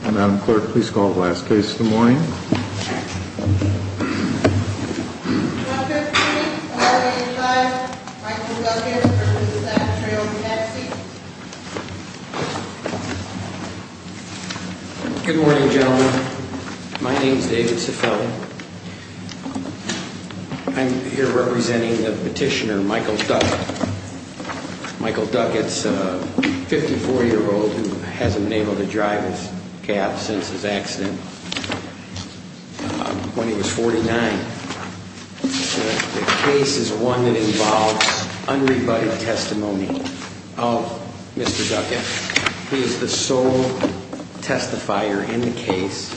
Madam Clerk, please call the last case of the morning. Good morning, gentlemen. My name is David Seffelt. I'm here representing the petitioner Michael Duckett. Michael Duckett is a 54-year-old who hasn't been able to drive his cab since his accident when he was 49. The case is one that involves unrebutted testimony of Mr. Duckett. He is the sole testifier in the case.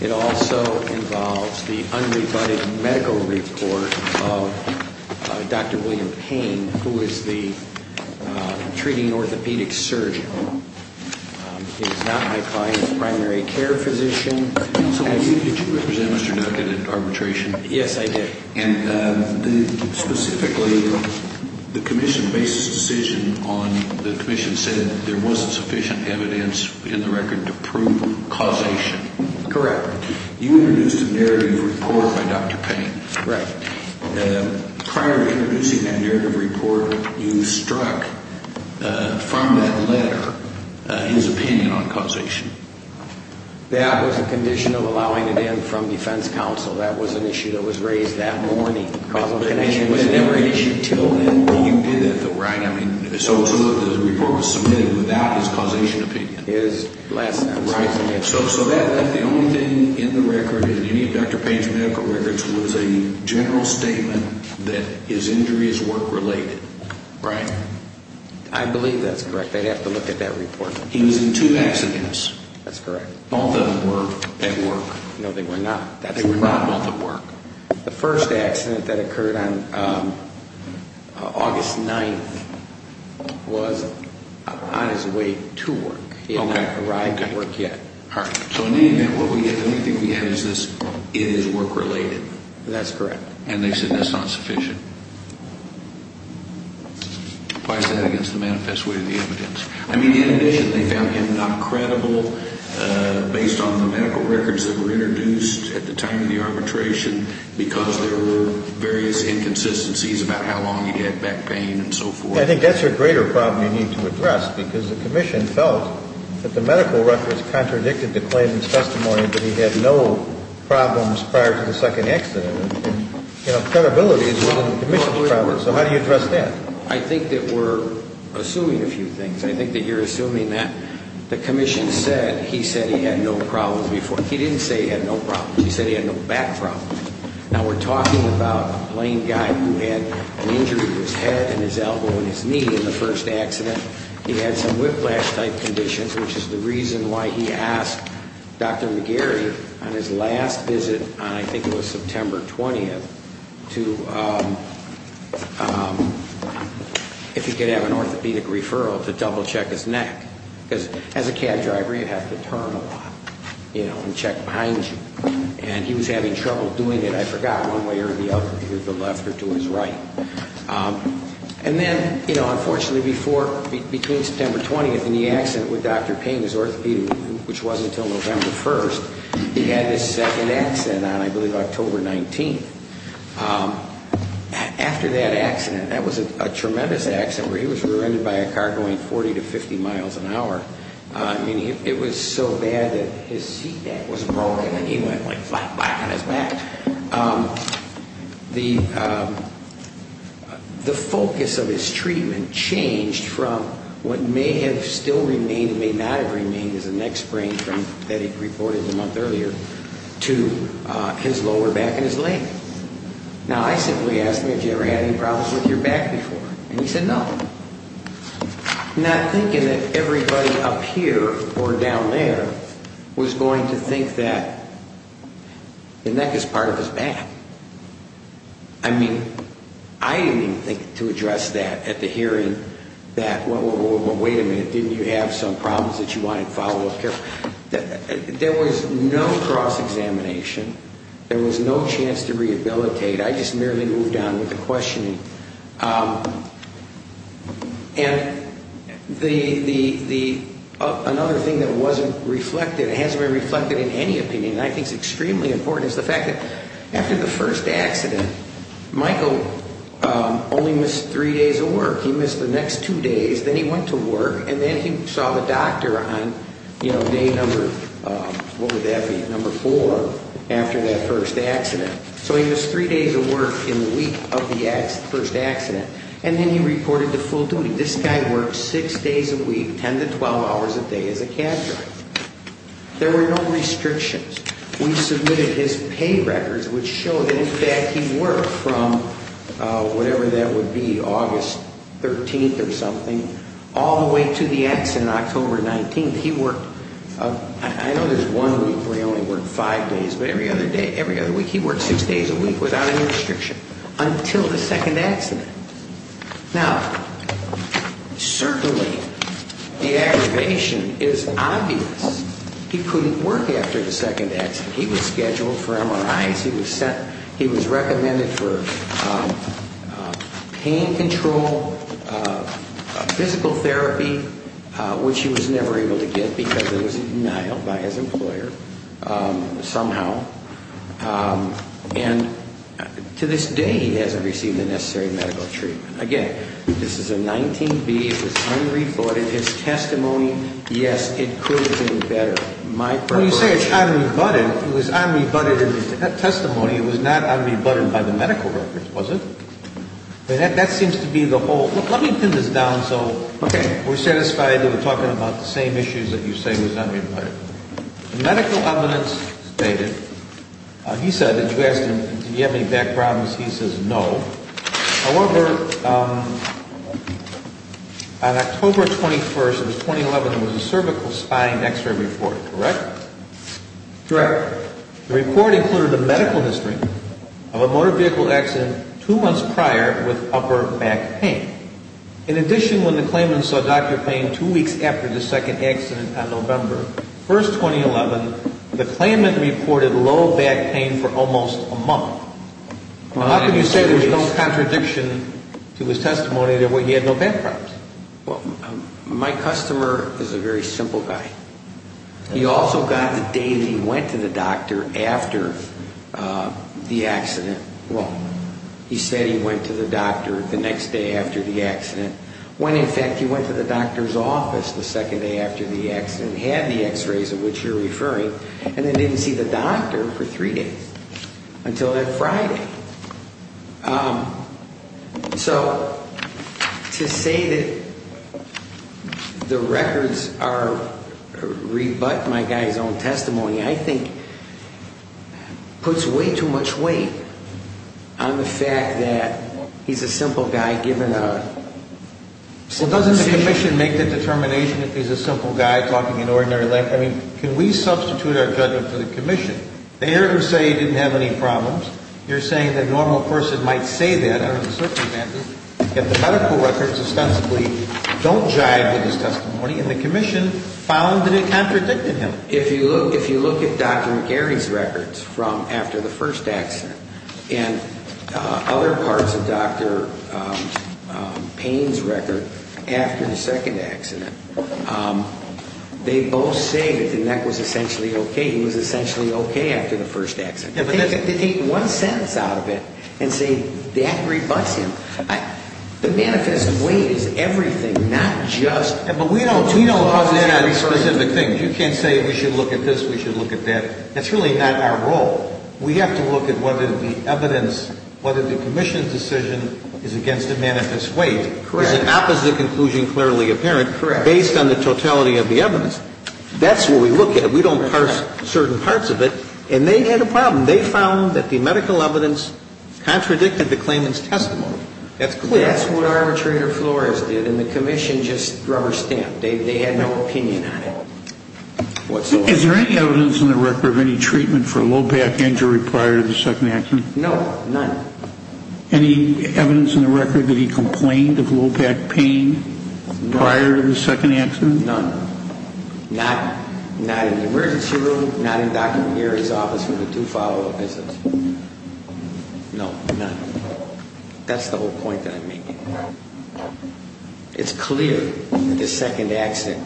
It also involves the unrebutted medical report of Dr. William Payne, who is the treating orthopedic surgeon. He is not my client's primary care physician. Did you represent Mr. Duckett at arbitration? Yes, I did. Specifically, the commission based its decision on, the commission said there wasn't sufficient evidence in the record to prove causation. Correct. You introduced a narrative report by Dr. Payne. Correct. Prior to introducing that narrative report, you struck from that letter his opinion on causation. That was a condition of allowing it in from defense counsel. That was an issue that was raised that morning. Causation was never an issue until then. You did that, though, right? I mean, so to it, the report was submitted without his causation opinion. His last sentence. Right. So the only thing in the record, in any of Dr. Payne's medical records, was a general statement that his injuries weren't related, right? I believe that's correct. They'd have to look at that report. He was in two accidents. That's correct. Both of them were at work. No, they were not. They were not both at work. The first accident that occurred on August 9th was on his way to work. He had not arrived at work yet. All right. So in any event, the only thing we have is this, it is work-related. That's correct. And they said that's not sufficient. Why is that against the manifest way to the evidence? I mean, in addition, they found him not credible based on the medical records that were introduced at the time of the arbitration because there were various inconsistencies about how long he had back pain and so forth. I think that's a greater problem you need to address because the commission felt that the medical records contradicted the claimant's testimony that he had no problems prior to the second accident. You know, credibility is within the commission's problems. So how do you address that? I think that we're assuming a few things. I think that you're assuming that the commission said he said he had no problems before. He didn't say he had no problems. He said he had no back problems. Now, we're talking about a plain guy who had an injury to his head and his elbow and his knee in the first accident. He had some whiplash-type conditions, which is the reason why he asked Dr. McGarry on his last visit, I think it was September 20th, to, if he could have an orthopedic referral, to double-check his neck. Because as a cab driver, you have to turn a lot, you know, and check behind you. And he was having trouble doing it, I forgot, one way or the other, to the left or to his right. And then, you know, unfortunately, before, between September 20th and the accident with Dr. Payne, his orthopedic, which wasn't until November 1st, he had his second accident on, I believe, October 19th. After that accident, that was a tremendous accident, where he was rear-ended by a car going 40 to 50 miles an hour. I mean, it was so bad that his seat-back was broken, and he went like flap-flap on his back. The focus of his treatment changed from what may have still remained and may not have remained as a neck sprain that he reported a month earlier, to his lower back and his leg. Now, I simply asked him, have you ever had any problems with your back before? And he said, no. Not thinking that everybody up here or down there was going to think that the neck is part of his back. I mean, I didn't even think to address that at the hearing, that, well, wait a minute, didn't you have some problems that you wanted follow-up care for? There was no cross-examination. There was no chance to rehabilitate. I just merely moved on with the questioning. And another thing that wasn't reflected, it hasn't been reflected in any opinion, and I think it's extremely important, is the fact that after the first accident, Michael only missed three days of work. He missed the next two days. Then he went to work, and then he saw the doctor on day number, what would that be, number four, after that first accident. So he missed three days of work in the week of the first accident. And then he reported to full duty. This guy worked six days a week, 10 to 12 hours a day as a cab driver. There were no restrictions. We submitted his pay records, which show that, in fact, he worked from whatever that would be, August 13th or something, all the way to the accident, October 19th. I know there's one week where he only worked five days, but every other day, every other week, he worked six days a week without any restriction until the second accident. Now, certainly the aggravation is obvious. He couldn't work after the second accident. He was scheduled for MRIs. He was recommended for pain control, physical therapy, which he was never able to get because it was denied by his employer somehow. And to this day, he hasn't received the necessary medical treatment. Again, this is a 19B. It was unrebutted. His testimony, yes, it could have been better. When you say it's unrebutted, it was unrebutted in the testimony. It was not unrebutted by the medical records, was it? That seems to be the whole – let me pin this down so we're satisfied that we're talking about the same issues that you say was unrebutted. The medical evidence stated – he said, did you ask him, did he have any back problems? He says no. However, on October 21st, it was 2011, there was a cervical spine X-ray report, correct? Correct. The report included a medical history of a motor vehicle accident two months prior with upper back pain. In addition, when the claimant saw Dr. Payne two weeks after the second accident on November 1st, 2011, the claimant reported low back pain for almost a month. Well, how can you say there's no contradiction to his testimony that he had no back problems? Well, my customer is a very simple guy. He also got the date he went to the doctor after the accident. Well, he said he went to the doctor the next day after the accident when, in fact, he went to the doctor's office the second day after the accident and had the X-rays of which you're referring, and then didn't see the doctor for three days until that Friday. So, to say that the records are – rebut my guy's own testimony, I think, puts way too much weight on the fact that he's a simple guy given a – Well, doesn't the commission make the determination that he's a simple guy talking an ordinary length? I mean, can we substitute our judgment for the commission? They never say he didn't have any problems. You're saying that a normal person might say that under the circumstances, yet the medical records ostensibly don't jive with his testimony, and the commission found that it contradicted him. If you look at Dr. McGarry's records from after the first accident and other parts of Dr. Payne's record after the second accident, they both say that the neck was essentially okay. He was essentially okay after the first accident. But they take one sentence out of it and say that rebuts him. The manifest weight is everything, not just – But we don't put that on specific things. You can't say we should look at this, we should look at that. That's really not our role. We have to look at whether the evidence – whether the commission's decision is against the manifest weight. Is the opposite conclusion clearly apparent based on the totality of the evidence? That's what we look at. We don't parse certain parts of it. And they had a problem. They found that the medical evidence contradicted the claimant's testimony. That's clear. That's what arbitrator Flores did, and the commission just rubber-stamped. They had no opinion on it whatsoever. Is there any evidence in the record of any treatment for a low back injury prior to the second accident? No, none. Any evidence in the record that he complained of low back pain prior to the second accident? None. Not in the emergency room, not in Dr. McGarry's office with the two follow-up visits. No, none. That's the whole point that I'm making. It's clear that the second accident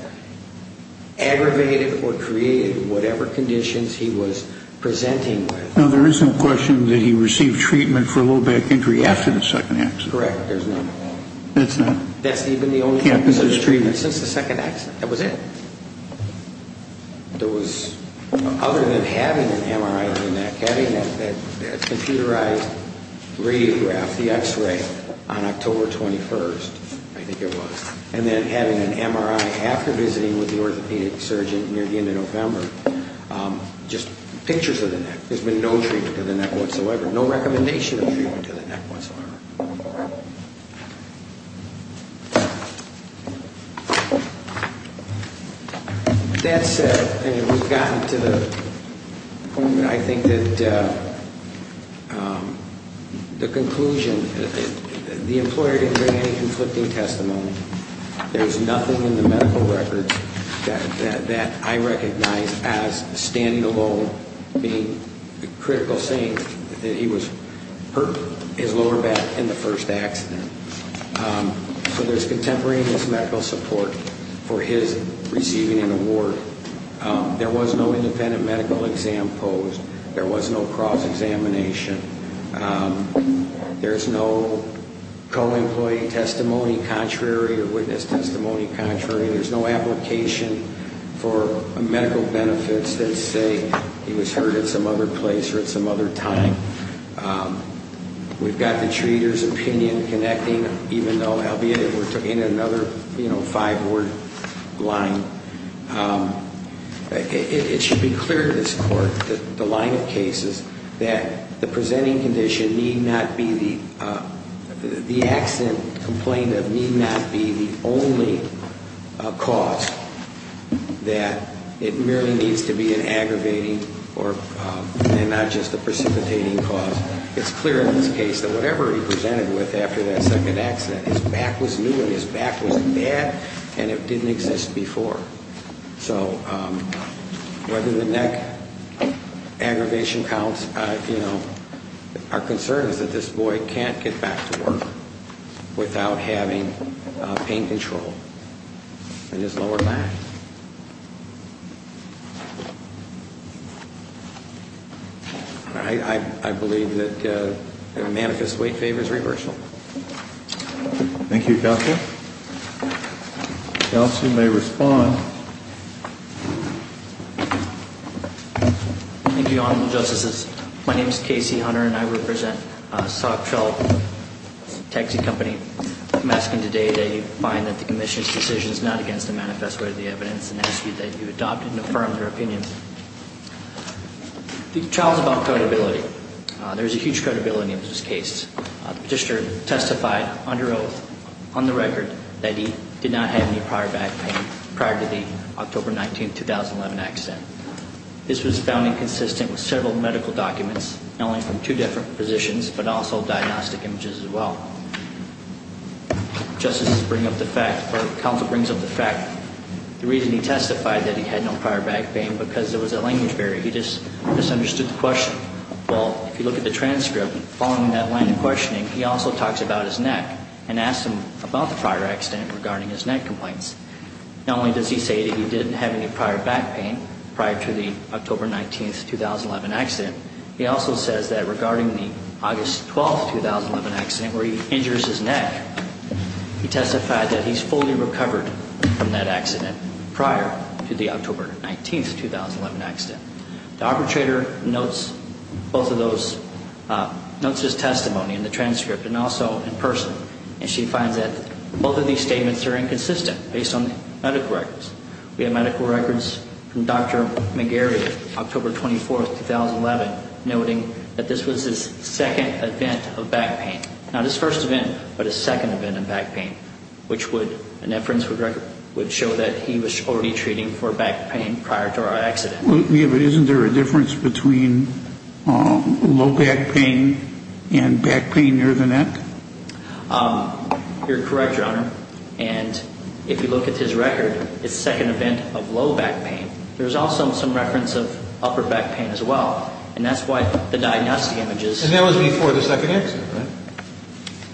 aggravated or created whatever conditions he was presenting with. No, there is no question that he received treatment for a low back injury after the second accident. Correct. There's none. That's not. That's even the only case of treatment since the second accident. That was it. Other than having an MRI of the neck, having a computerized radiograph, the x-ray, on October 21st, I think it was, and then having an MRI after visiting with the orthopedic surgeon near the end of November, just pictures of the neck. There's been no treatment to the neck whatsoever, no recommendation of treatment to the neck whatsoever. That said, and we've gotten to the point where I think that the conclusion, the employer didn't bring any conflicting testimony. There's nothing in the medical records that I recognize as standing alone being the critical saying that he hurt his lower back in the first accident. So there's contemporaneous medical support for his receiving an award. There was no independent medical exam posed. There was no cross-examination. There's no co-employee testimony contrary or witness testimony contrary. There's no application for medical benefits that say he was hurt at some other place or at some other time. We've got the treater's opinion connecting, even though, albeit, we're in another five-word line. It should be clear to this court, the line of cases, that the presenting condition need not be the, the accident complainant need not be the only cause, that it merely needs to be an aggravating and not just a precipitating cause. It's clear in this case that whatever he presented with after that second accident, his back was new and his back was bad and it didn't exist before. So whether the neck aggravation counts, our concern is that this boy can't get back to work without having pain control in his lower back. I believe that a manifest weight favors reversal. Thank you, Counselor. Counsel may respond. Thank you, Honorable Justices. My name is Casey Hunter and I represent Sock Trail Taxi Company. I'm asking today that you find that the Commissioner's decision is not against the manifest weight of the evidence and ask that you adopt and affirm your opinion. The trial is about credibility. There is a huge credibility in this case. The Petitioner testified under oath on the record that he did not have any prior back pain prior to the October 19, 2011 accident. This was found inconsistent with several medical documents, not only from two different positions but also diagnostic images as well. Justices bring up the fact, or Counsel brings up the fact, the reason he testified that he had no prior back pain because there was a language barrier. He just misunderstood the question. Well, if you look at the transcript, following that line of questioning, he also talks about his neck and asks him about the prior accident regarding his neck complaints. Not only does he say that he didn't have any prior back pain prior to the October 19, 2011 accident, he also says that regarding the August 12, 2011 accident where he injures his neck, he testified that he's fully recovered from that accident prior to the October 19, 2011 accident. The arbitrator notes both of those, notes his testimony in the transcript and also in person, and she finds that both of these statements are inconsistent based on the medical records. We have medical records from Dr. McGarry, October 24, 2011, noting that this was his second event of back pain. Not his first event, but his second event of back pain, which would, an inference would show that he was already treating for back pain prior to our accident. Isn't there a difference between low back pain and back pain near the neck? You're correct, Your Honor, and if you look at his record, it's second event of low back pain. There's also some reference of upper back pain as well, and that's why the diagnostic images. And that was before the second accident, right?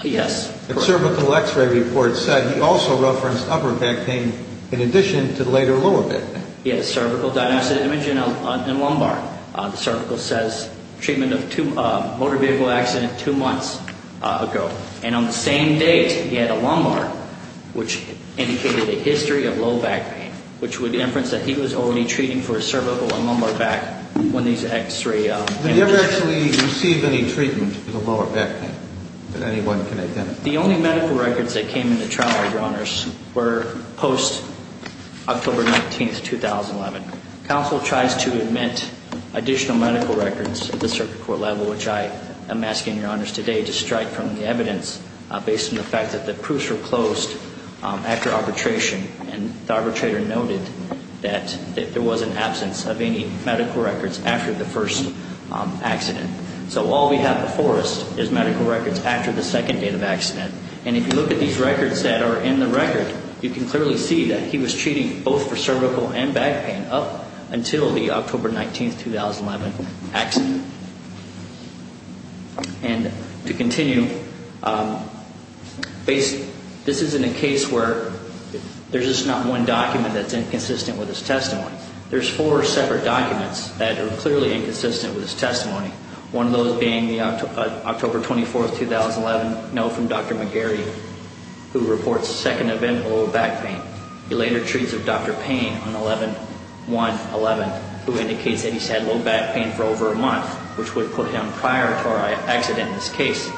Yes. The cervical x-ray report said he also referenced upper back pain in addition to the later lower back pain. Yes, cervical diagnostic image in lumbar. The cervical says treatment of motor vehicle accident two months ago, and on the same date he had a lumbar, which indicated a history of low back pain, which would inference that he was already treating for his cervical and lumbar back when these x-ray images. Did he ever actually receive any treatment for the lower back pain that anyone can identify? The only medical records that came into trial, Your Honors, were post-October 19, 2011. Counsel tries to admit additional medical records at the circuit court level, which I am asking, Your Honors, today to strike from the evidence based on the fact that the proofs were closed after arbitration. And the arbitrator noted that there was an absence of any medical records after the first accident. So all we have before us is medical records after the second day of the accident. And if you look at these records that are in the record, you can clearly see that he was treating both for cervical and back pain up until the October 19, 2011 accident. And to continue, this isn't a case where there's just not one document that's inconsistent with his testimony. There's four separate documents that are clearly inconsistent with his testimony, one of those being the October 24, 2011 note from Dr. McGarry, who reports a second event of lower back pain. He later treats of Dr. Payne on 11-1-11, who indicates that he's had lower back pain for over a month, which would put him prior to our accident in this case.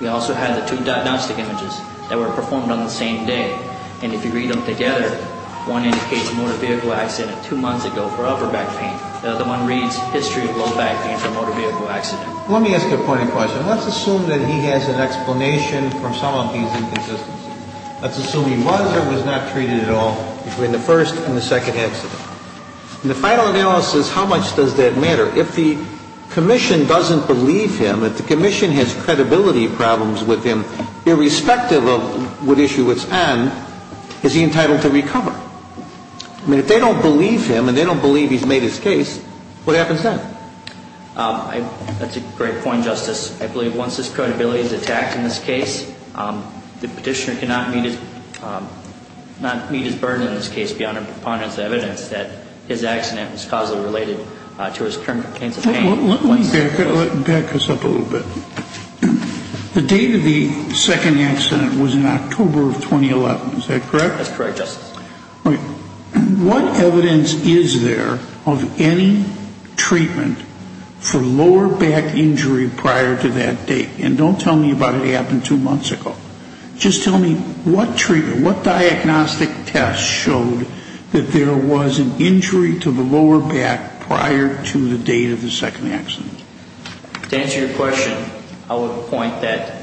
We also have the two diagnostic images that were performed on the same day. And if you read them together, one indicates a motor vehicle accident two months ago for upper back pain. The other one reads history of lower back pain from motor vehicle accident. Let me ask a point of question. Let's assume that he has an explanation from some of these inconsistencies. Let's assume he was or was not treated at all between the first and the second accident. In the final analysis, how much does that matter? If the commission doesn't believe him, if the commission has credibility problems with him, irrespective of what issue it's on, is he entitled to recover? I mean, if they don't believe him and they don't believe he's made his case, what happens then? That's a great point, Justice. I believe once his credibility is attacked in this case, the petitioner cannot meet his burden in this case beyond a preponderance of evidence that his accident was causally related to his current pains of pain. Let me back this up a little bit. The date of the second accident was in October of 2011. Is that correct? That's correct, Justice. All right. What evidence is there of any treatment for lower back injury prior to that date? And don't tell me about it happened two months ago. Just tell me what treatment, what diagnostic test showed that there was an injury to the lower back prior to the date of the second accident? To answer your question, I would point that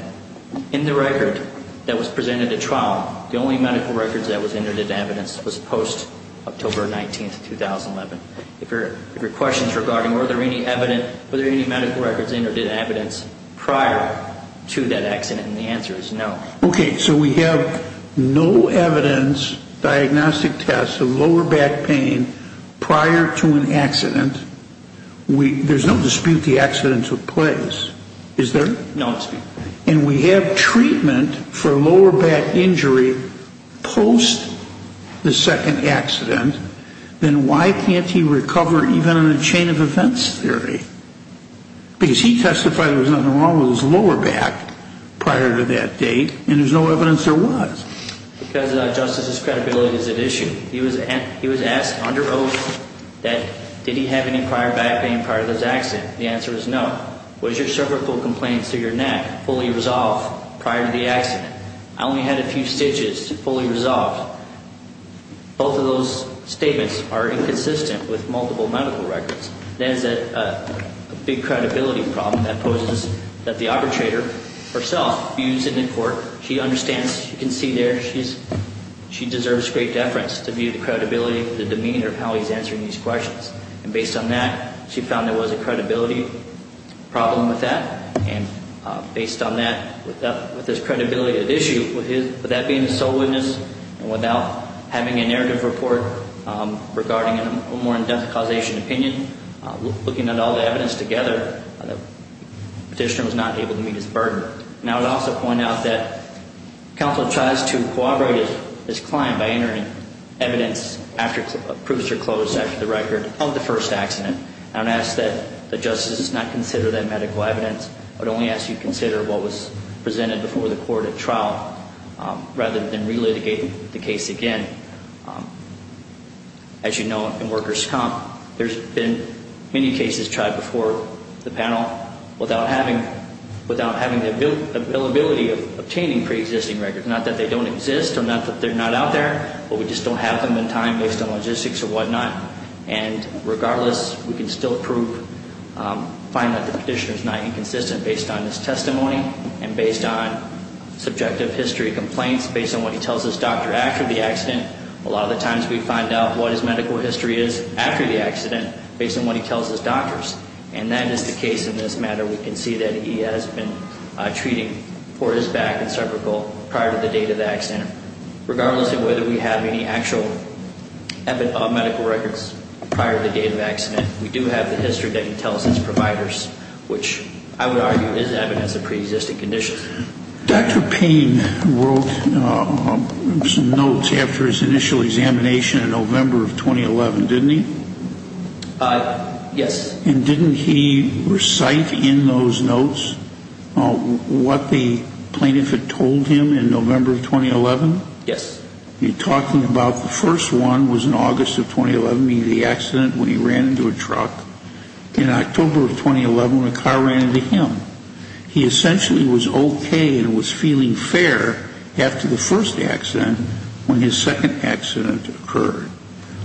in the record that was presented at trial, the only medical records that was entered in evidence was post-October 19th, 2011. If your question is regarding were there any medical records entered in evidence prior to that accident, and the answer is no. Okay. So we have no evidence, diagnostic tests of lower back pain prior to an accident. There's no dispute the accident took place, is there? No dispute. And we have treatment for lower back injury post the second accident, then why can't he recover even in a chain of events theory? Because he testified there was nothing wrong with his lower back prior to that date, and there's no evidence there was. Because, Justice, his credibility is at issue. He was asked under oath that did he have any prior back pain prior to this accident. The answer is no. Was your cervical complaints to your neck fully resolved prior to the accident? I only had a few stitches fully resolved. Both of those statements are inconsistent with multiple medical records. That is a big credibility problem that poses that the arbitrator herself views in the court. She understands. You can see there she deserves great deference to view the credibility, the demeanor of how he's answering these questions. And based on that, she found there was a credibility problem with that. And based on that, with his credibility at issue, with that being a sole witness, and without having a narrative report regarding a more in-depth causation opinion, looking at all the evidence together, the petitioner was not able to meet his burden. And I would also point out that counsel tries to corroborate his client by entering evidence after proofs are closed after the record of the first accident. I would ask that the justices not consider that medical evidence but only ask you consider what was presented before the court at trial rather than relitigate the case again. As you know, in workers' comp, there's been many cases tried before the panel without having the availability of obtaining preexisting records, not that they don't exist or not that they're not out there, but we just don't have them in time based on logistics or whatnot. And regardless, we can still find that the petitioner is not inconsistent based on his testimony and based on subjective history of complaints, based on what he tells his doctor after the accident. A lot of the times we find out what his medical history is after the accident based on what he tells his doctors. And that is the case in this matter. We can see that he has been treating for his back and cervical prior to the date of the accident. Regardless of whether we have any actual medical records prior to the date of the accident, we do have the history that he tells his providers, which I would argue is evidence of preexisting conditions. Dr. Payne wrote some notes after his initial examination in November of 2011, didn't he? Yes. And didn't he recite in those notes what the plaintiff had told him in November of 2011? Yes. You're talking about the first one was in August of 2011, the accident when he ran into a truck. In October of 2011, a car ran into him. He essentially was okay and was feeling fair after the first accident when his second accident occurred,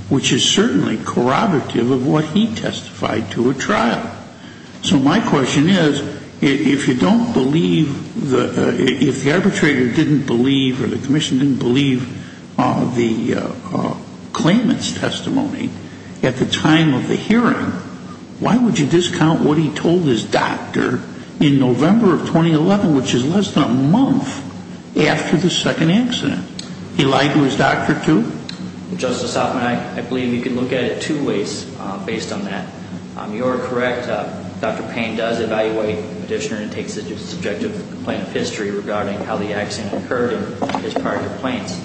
which is certainly corroborative of what he testified to at trial. So my question is, if you don't believe, if the arbitrator didn't believe or the commission didn't believe the claimant's testimony at the time of the hearing, why would you discount what he told his doctor in November of 2011, which is less than a month after the second accident? He lied to his doctor too? Justice Hoffman, I believe you can look at it two ways based on that. You are correct. Dr. Payne does evaluate the petitioner and takes a subjective complaint of history regarding how the accident occurred and his prior complaints.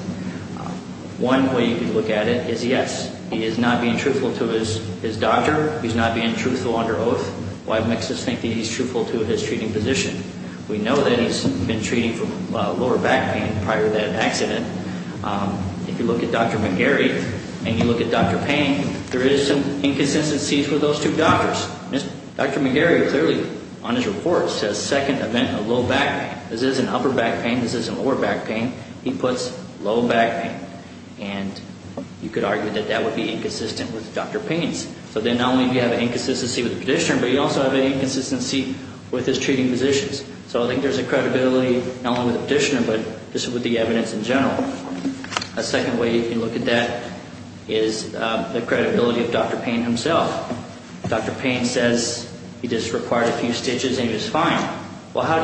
One way you can look at it is yes, he is not being truthful to his doctor. He's not being truthful under oath. Why makes us think that he's truthful to his treating physician? We know that he's been treating for lower back pain prior to that accident. If you look at Dr. McGarry and you look at Dr. Payne, there is some inconsistencies with those two doctors. Dr. McGarry clearly on his report says second event of low back pain. This isn't upper back pain. This isn't lower back pain. He puts low back pain, and you could argue that that would be inconsistent with Dr. Payne's. So then not only do you have an inconsistency with the petitioner, but you also have an inconsistency with his treating physicians. So I think there's a credibility not only with the petitioner but just with the evidence in general. A second way you can look at that is the credibility of Dr. Payne himself. Dr. Payne says he just required a few stitches and he was fine. Well, how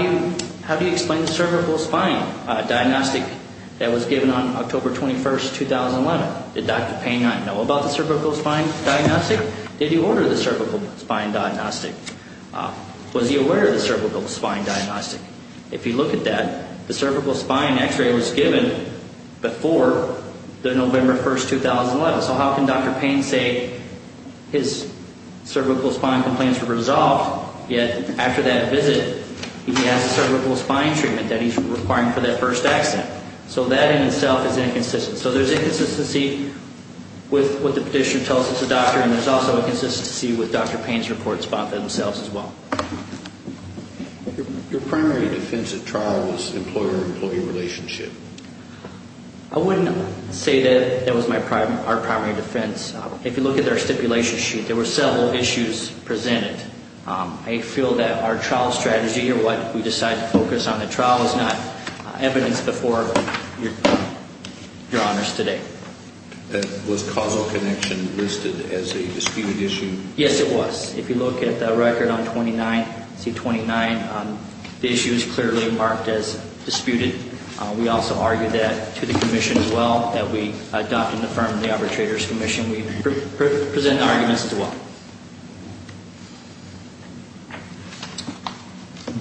do you explain the cervical spine diagnostic that was given on October 21, 2011? Did Dr. Payne not know about the cervical spine diagnostic? Did he order the cervical spine diagnostic? Was he aware of the cervical spine diagnostic? If you look at that, the cervical spine x-ray was given before the November 1, 2011. So how can Dr. Payne say his cervical spine complaints were resolved, yet after that visit he has a cervical spine treatment that he's requiring for that first accident? So that in itself is inconsistent. So there's inconsistency with what the petitioner tells us as a doctor, and there's also inconsistency with Dr. Payne's report themselves as well. Your primary defense at trial was employer-employee relationship. I wouldn't say that that was our primary defense. If you look at our stipulation sheet, there were several issues presented. I feel that our trial strategy or what we decided to focus on in the trial is not evidence before Your Honors today. Was causal connection listed as a disputed issue? Yes, it was. If you look at the record on 29C29, the issue is clearly marked as disputed. We also argued that to the commission as well, that we adopted and affirmed the arbitrator's commission. We present the arguments as well.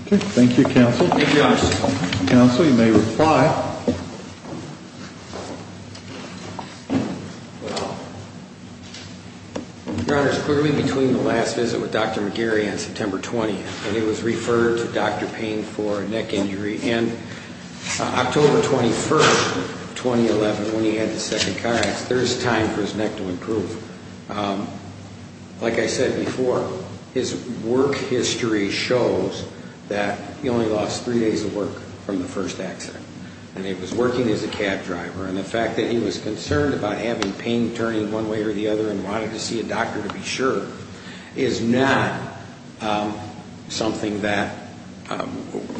Okay. Thank you, counsel. Thank you, Your Honors. Counsel, you may reply. Well, Your Honors, clearly between the last visit with Dr. McGarry on September 20th, and he was referred to Dr. Payne for neck injury, and October 21st, 2011, when he had his second car accident, there was time for his neck to improve. Like I said before, his work history shows that he only lost three days of work from the first accident. And he was working as a cab driver, and the fact that he was concerned about having pain turning one way or the other and wanted to see a doctor to be sure is not something that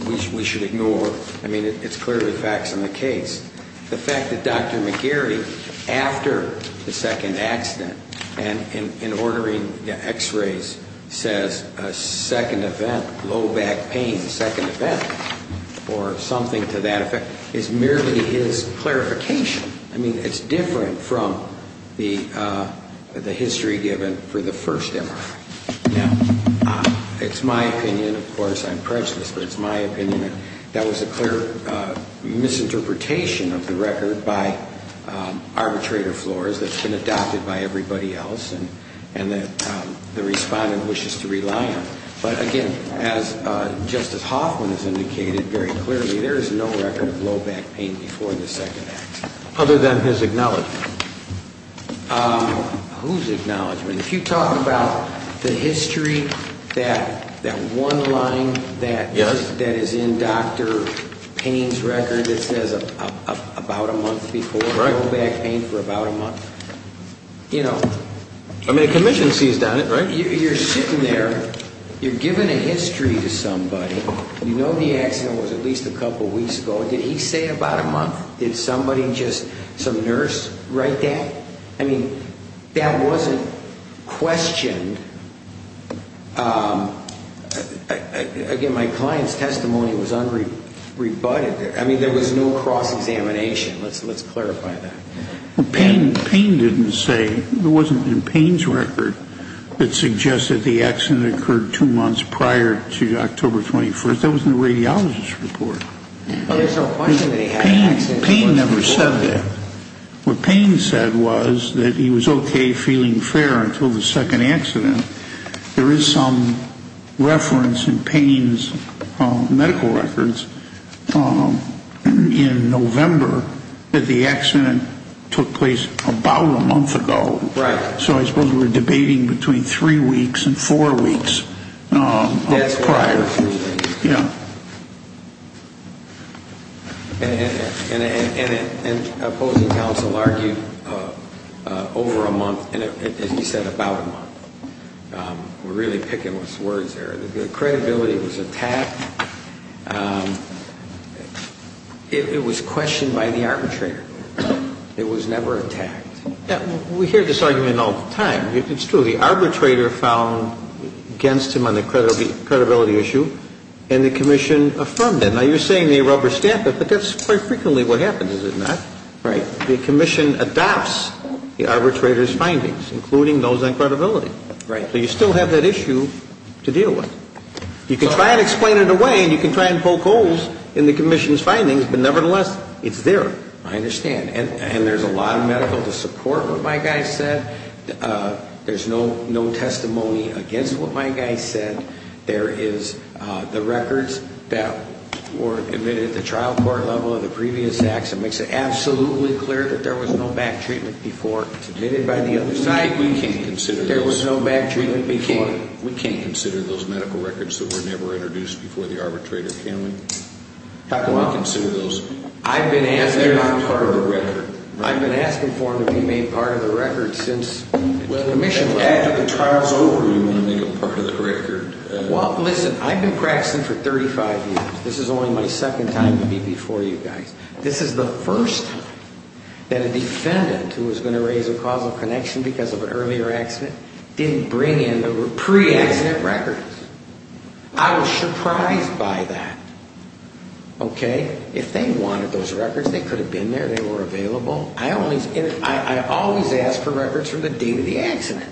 we should ignore. I mean, it's clearly facts in the case. The fact that Dr. McGarry, after the second accident, and in ordering the x-rays, says a second event, low back pain, or something to that effect is merely his clarification. I mean, it's different from the history given for the first MRI. Now, it's my opinion. Of course, I'm prejudiced, but it's my opinion. That was a clear misinterpretation of the record by arbitrator floors that's been adopted by everybody else and that the respondent wishes to rely on. But, again, just as Hoffman has indicated very clearly, there is no record of low back pain before the second accident. Other than his acknowledgment. Whose acknowledgment? If you talk about the history, that one line that is in Dr. Payne's record that says about a month before low back pain for about a month, you know. I mean, a commission sees that, right? You're sitting there. You're giving a history to somebody. You know the accident was at least a couple weeks ago. Did he say about a month? Did somebody just, some nurse, write that? I mean, that wasn't questioned. Again, my client's testimony was unrebutted. I mean, there was no cross-examination. Let's clarify that. Payne didn't say, it wasn't in Payne's record, that suggested the accident occurred two months prior to October 21st. That was in the radiologist's report. Payne never said that. What Payne said was that he was okay feeling fair until the second accident. There is some reference in Payne's medical records in November that the accident took place about a month ago. Right. So I suppose we're debating between three weeks and four weeks prior. Yeah. And opposing counsel argued over a month, and he said about a month. We're really picking words there. The credibility was attacked. It was questioned by the arbitrator. It was never attacked. We hear this argument all the time. It's true. The arbitrator found against him on the credibility issue, and the commission affirmed it. Now, you're saying they rubber-stamp it, but that's quite frequently what happens, is it not? Right. The commission adopts the arbitrator's findings, including those on credibility. Right. So you still have that issue to deal with. You can try and explain it away, and you can try and poke holes in the commission's findings, but nevertheless, it's there. I understand. And there's a lot of medical to support what my guy said. There's no testimony against what my guy said. There is the records that were admitted at the trial court level of the previous acts. It makes it absolutely clear that there was no back treatment before. It's admitted by the other side. We can't consider those. There was no back treatment before. We can't consider those medical records that were never introduced before the arbitrator, can we? How can we consider those? I've been asking for them. They're not part of the record. I've been asking for them to be made part of the record since the commission left. Well, after the trial's over, you want to make them part of the record. Well, listen, I've been practicing for 35 years. This is only my second time to be before you guys. This is the first time that a defendant who was going to raise a causal connection because of an earlier accident didn't bring in the pre-accident records. I was surprised by that, okay? If they wanted those records, they could have been there. They were available. I always ask for records from the date of the accident.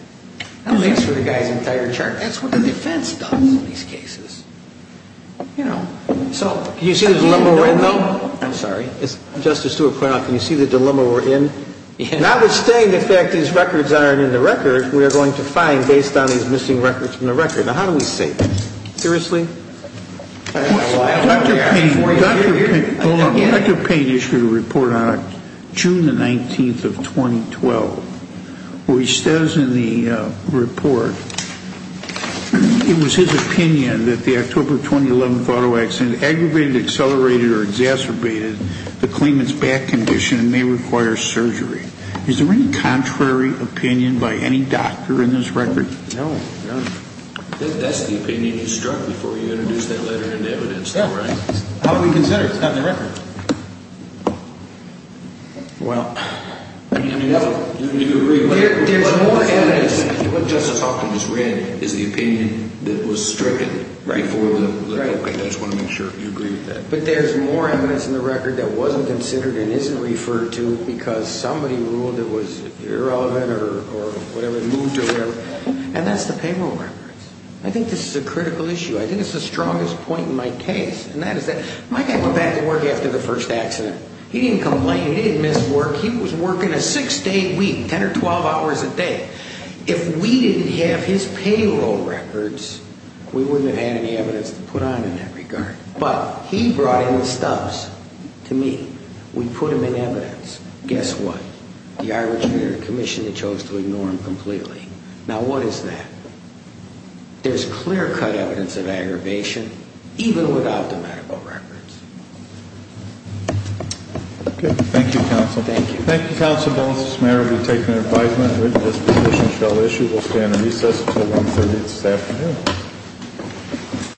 That makes for the guy's entire chart. That's what the defense does in these cases, you know. So can you see the dilemma we're in, though? I'm sorry? As Justice Stewart pointed out, can you see the dilemma we're in? Notwithstanding the fact these records aren't in the record, we are going to find based on these missing records from the record. Now, how do we say this? Seriously? Dr. Payne issued a report on June the 19th of 2012. What he says in the report, it was his opinion that the October 2011 auto accident aggravated, accelerated, or exacerbated the claimant's back condition and may require surgery. Is there any contrary opinion by any doctor in this record? No. That's the opinion you struck before you introduced that letter into evidence, though, right? How would we consider it? It's not in the record. Well, I mean, you agree with that. There's more evidence. What Justice Hopkins read is the opinion that was stricken before the letter. I just want to make sure you agree with that. But there's more evidence in the record that wasn't considered and isn't referred to because somebody ruled it was irrelevant or whatever, it moved or whatever. And that's the payroll records. I think this is a critical issue. I think it's the strongest point in my case. And that is that my guy went back to work after the first accident. He didn't complain. He didn't miss work. He was working a six-day week, 10 or 12 hours a day. If we didn't have his payroll records, we wouldn't have had any evidence to put on in that regard. But he brought in the stuff to me. We put them in evidence. Guess what? The Irish Mayor commissioned and chose to ignore him completely. Now, what is that? There's clear-cut evidence of aggravation, even without the medical records. Okay. Thank you, counsel. Thank you. Thank you, counsel. This matter will be taken in advisement. This position shall issue. We'll stand in recess until 1-30 this afternoon.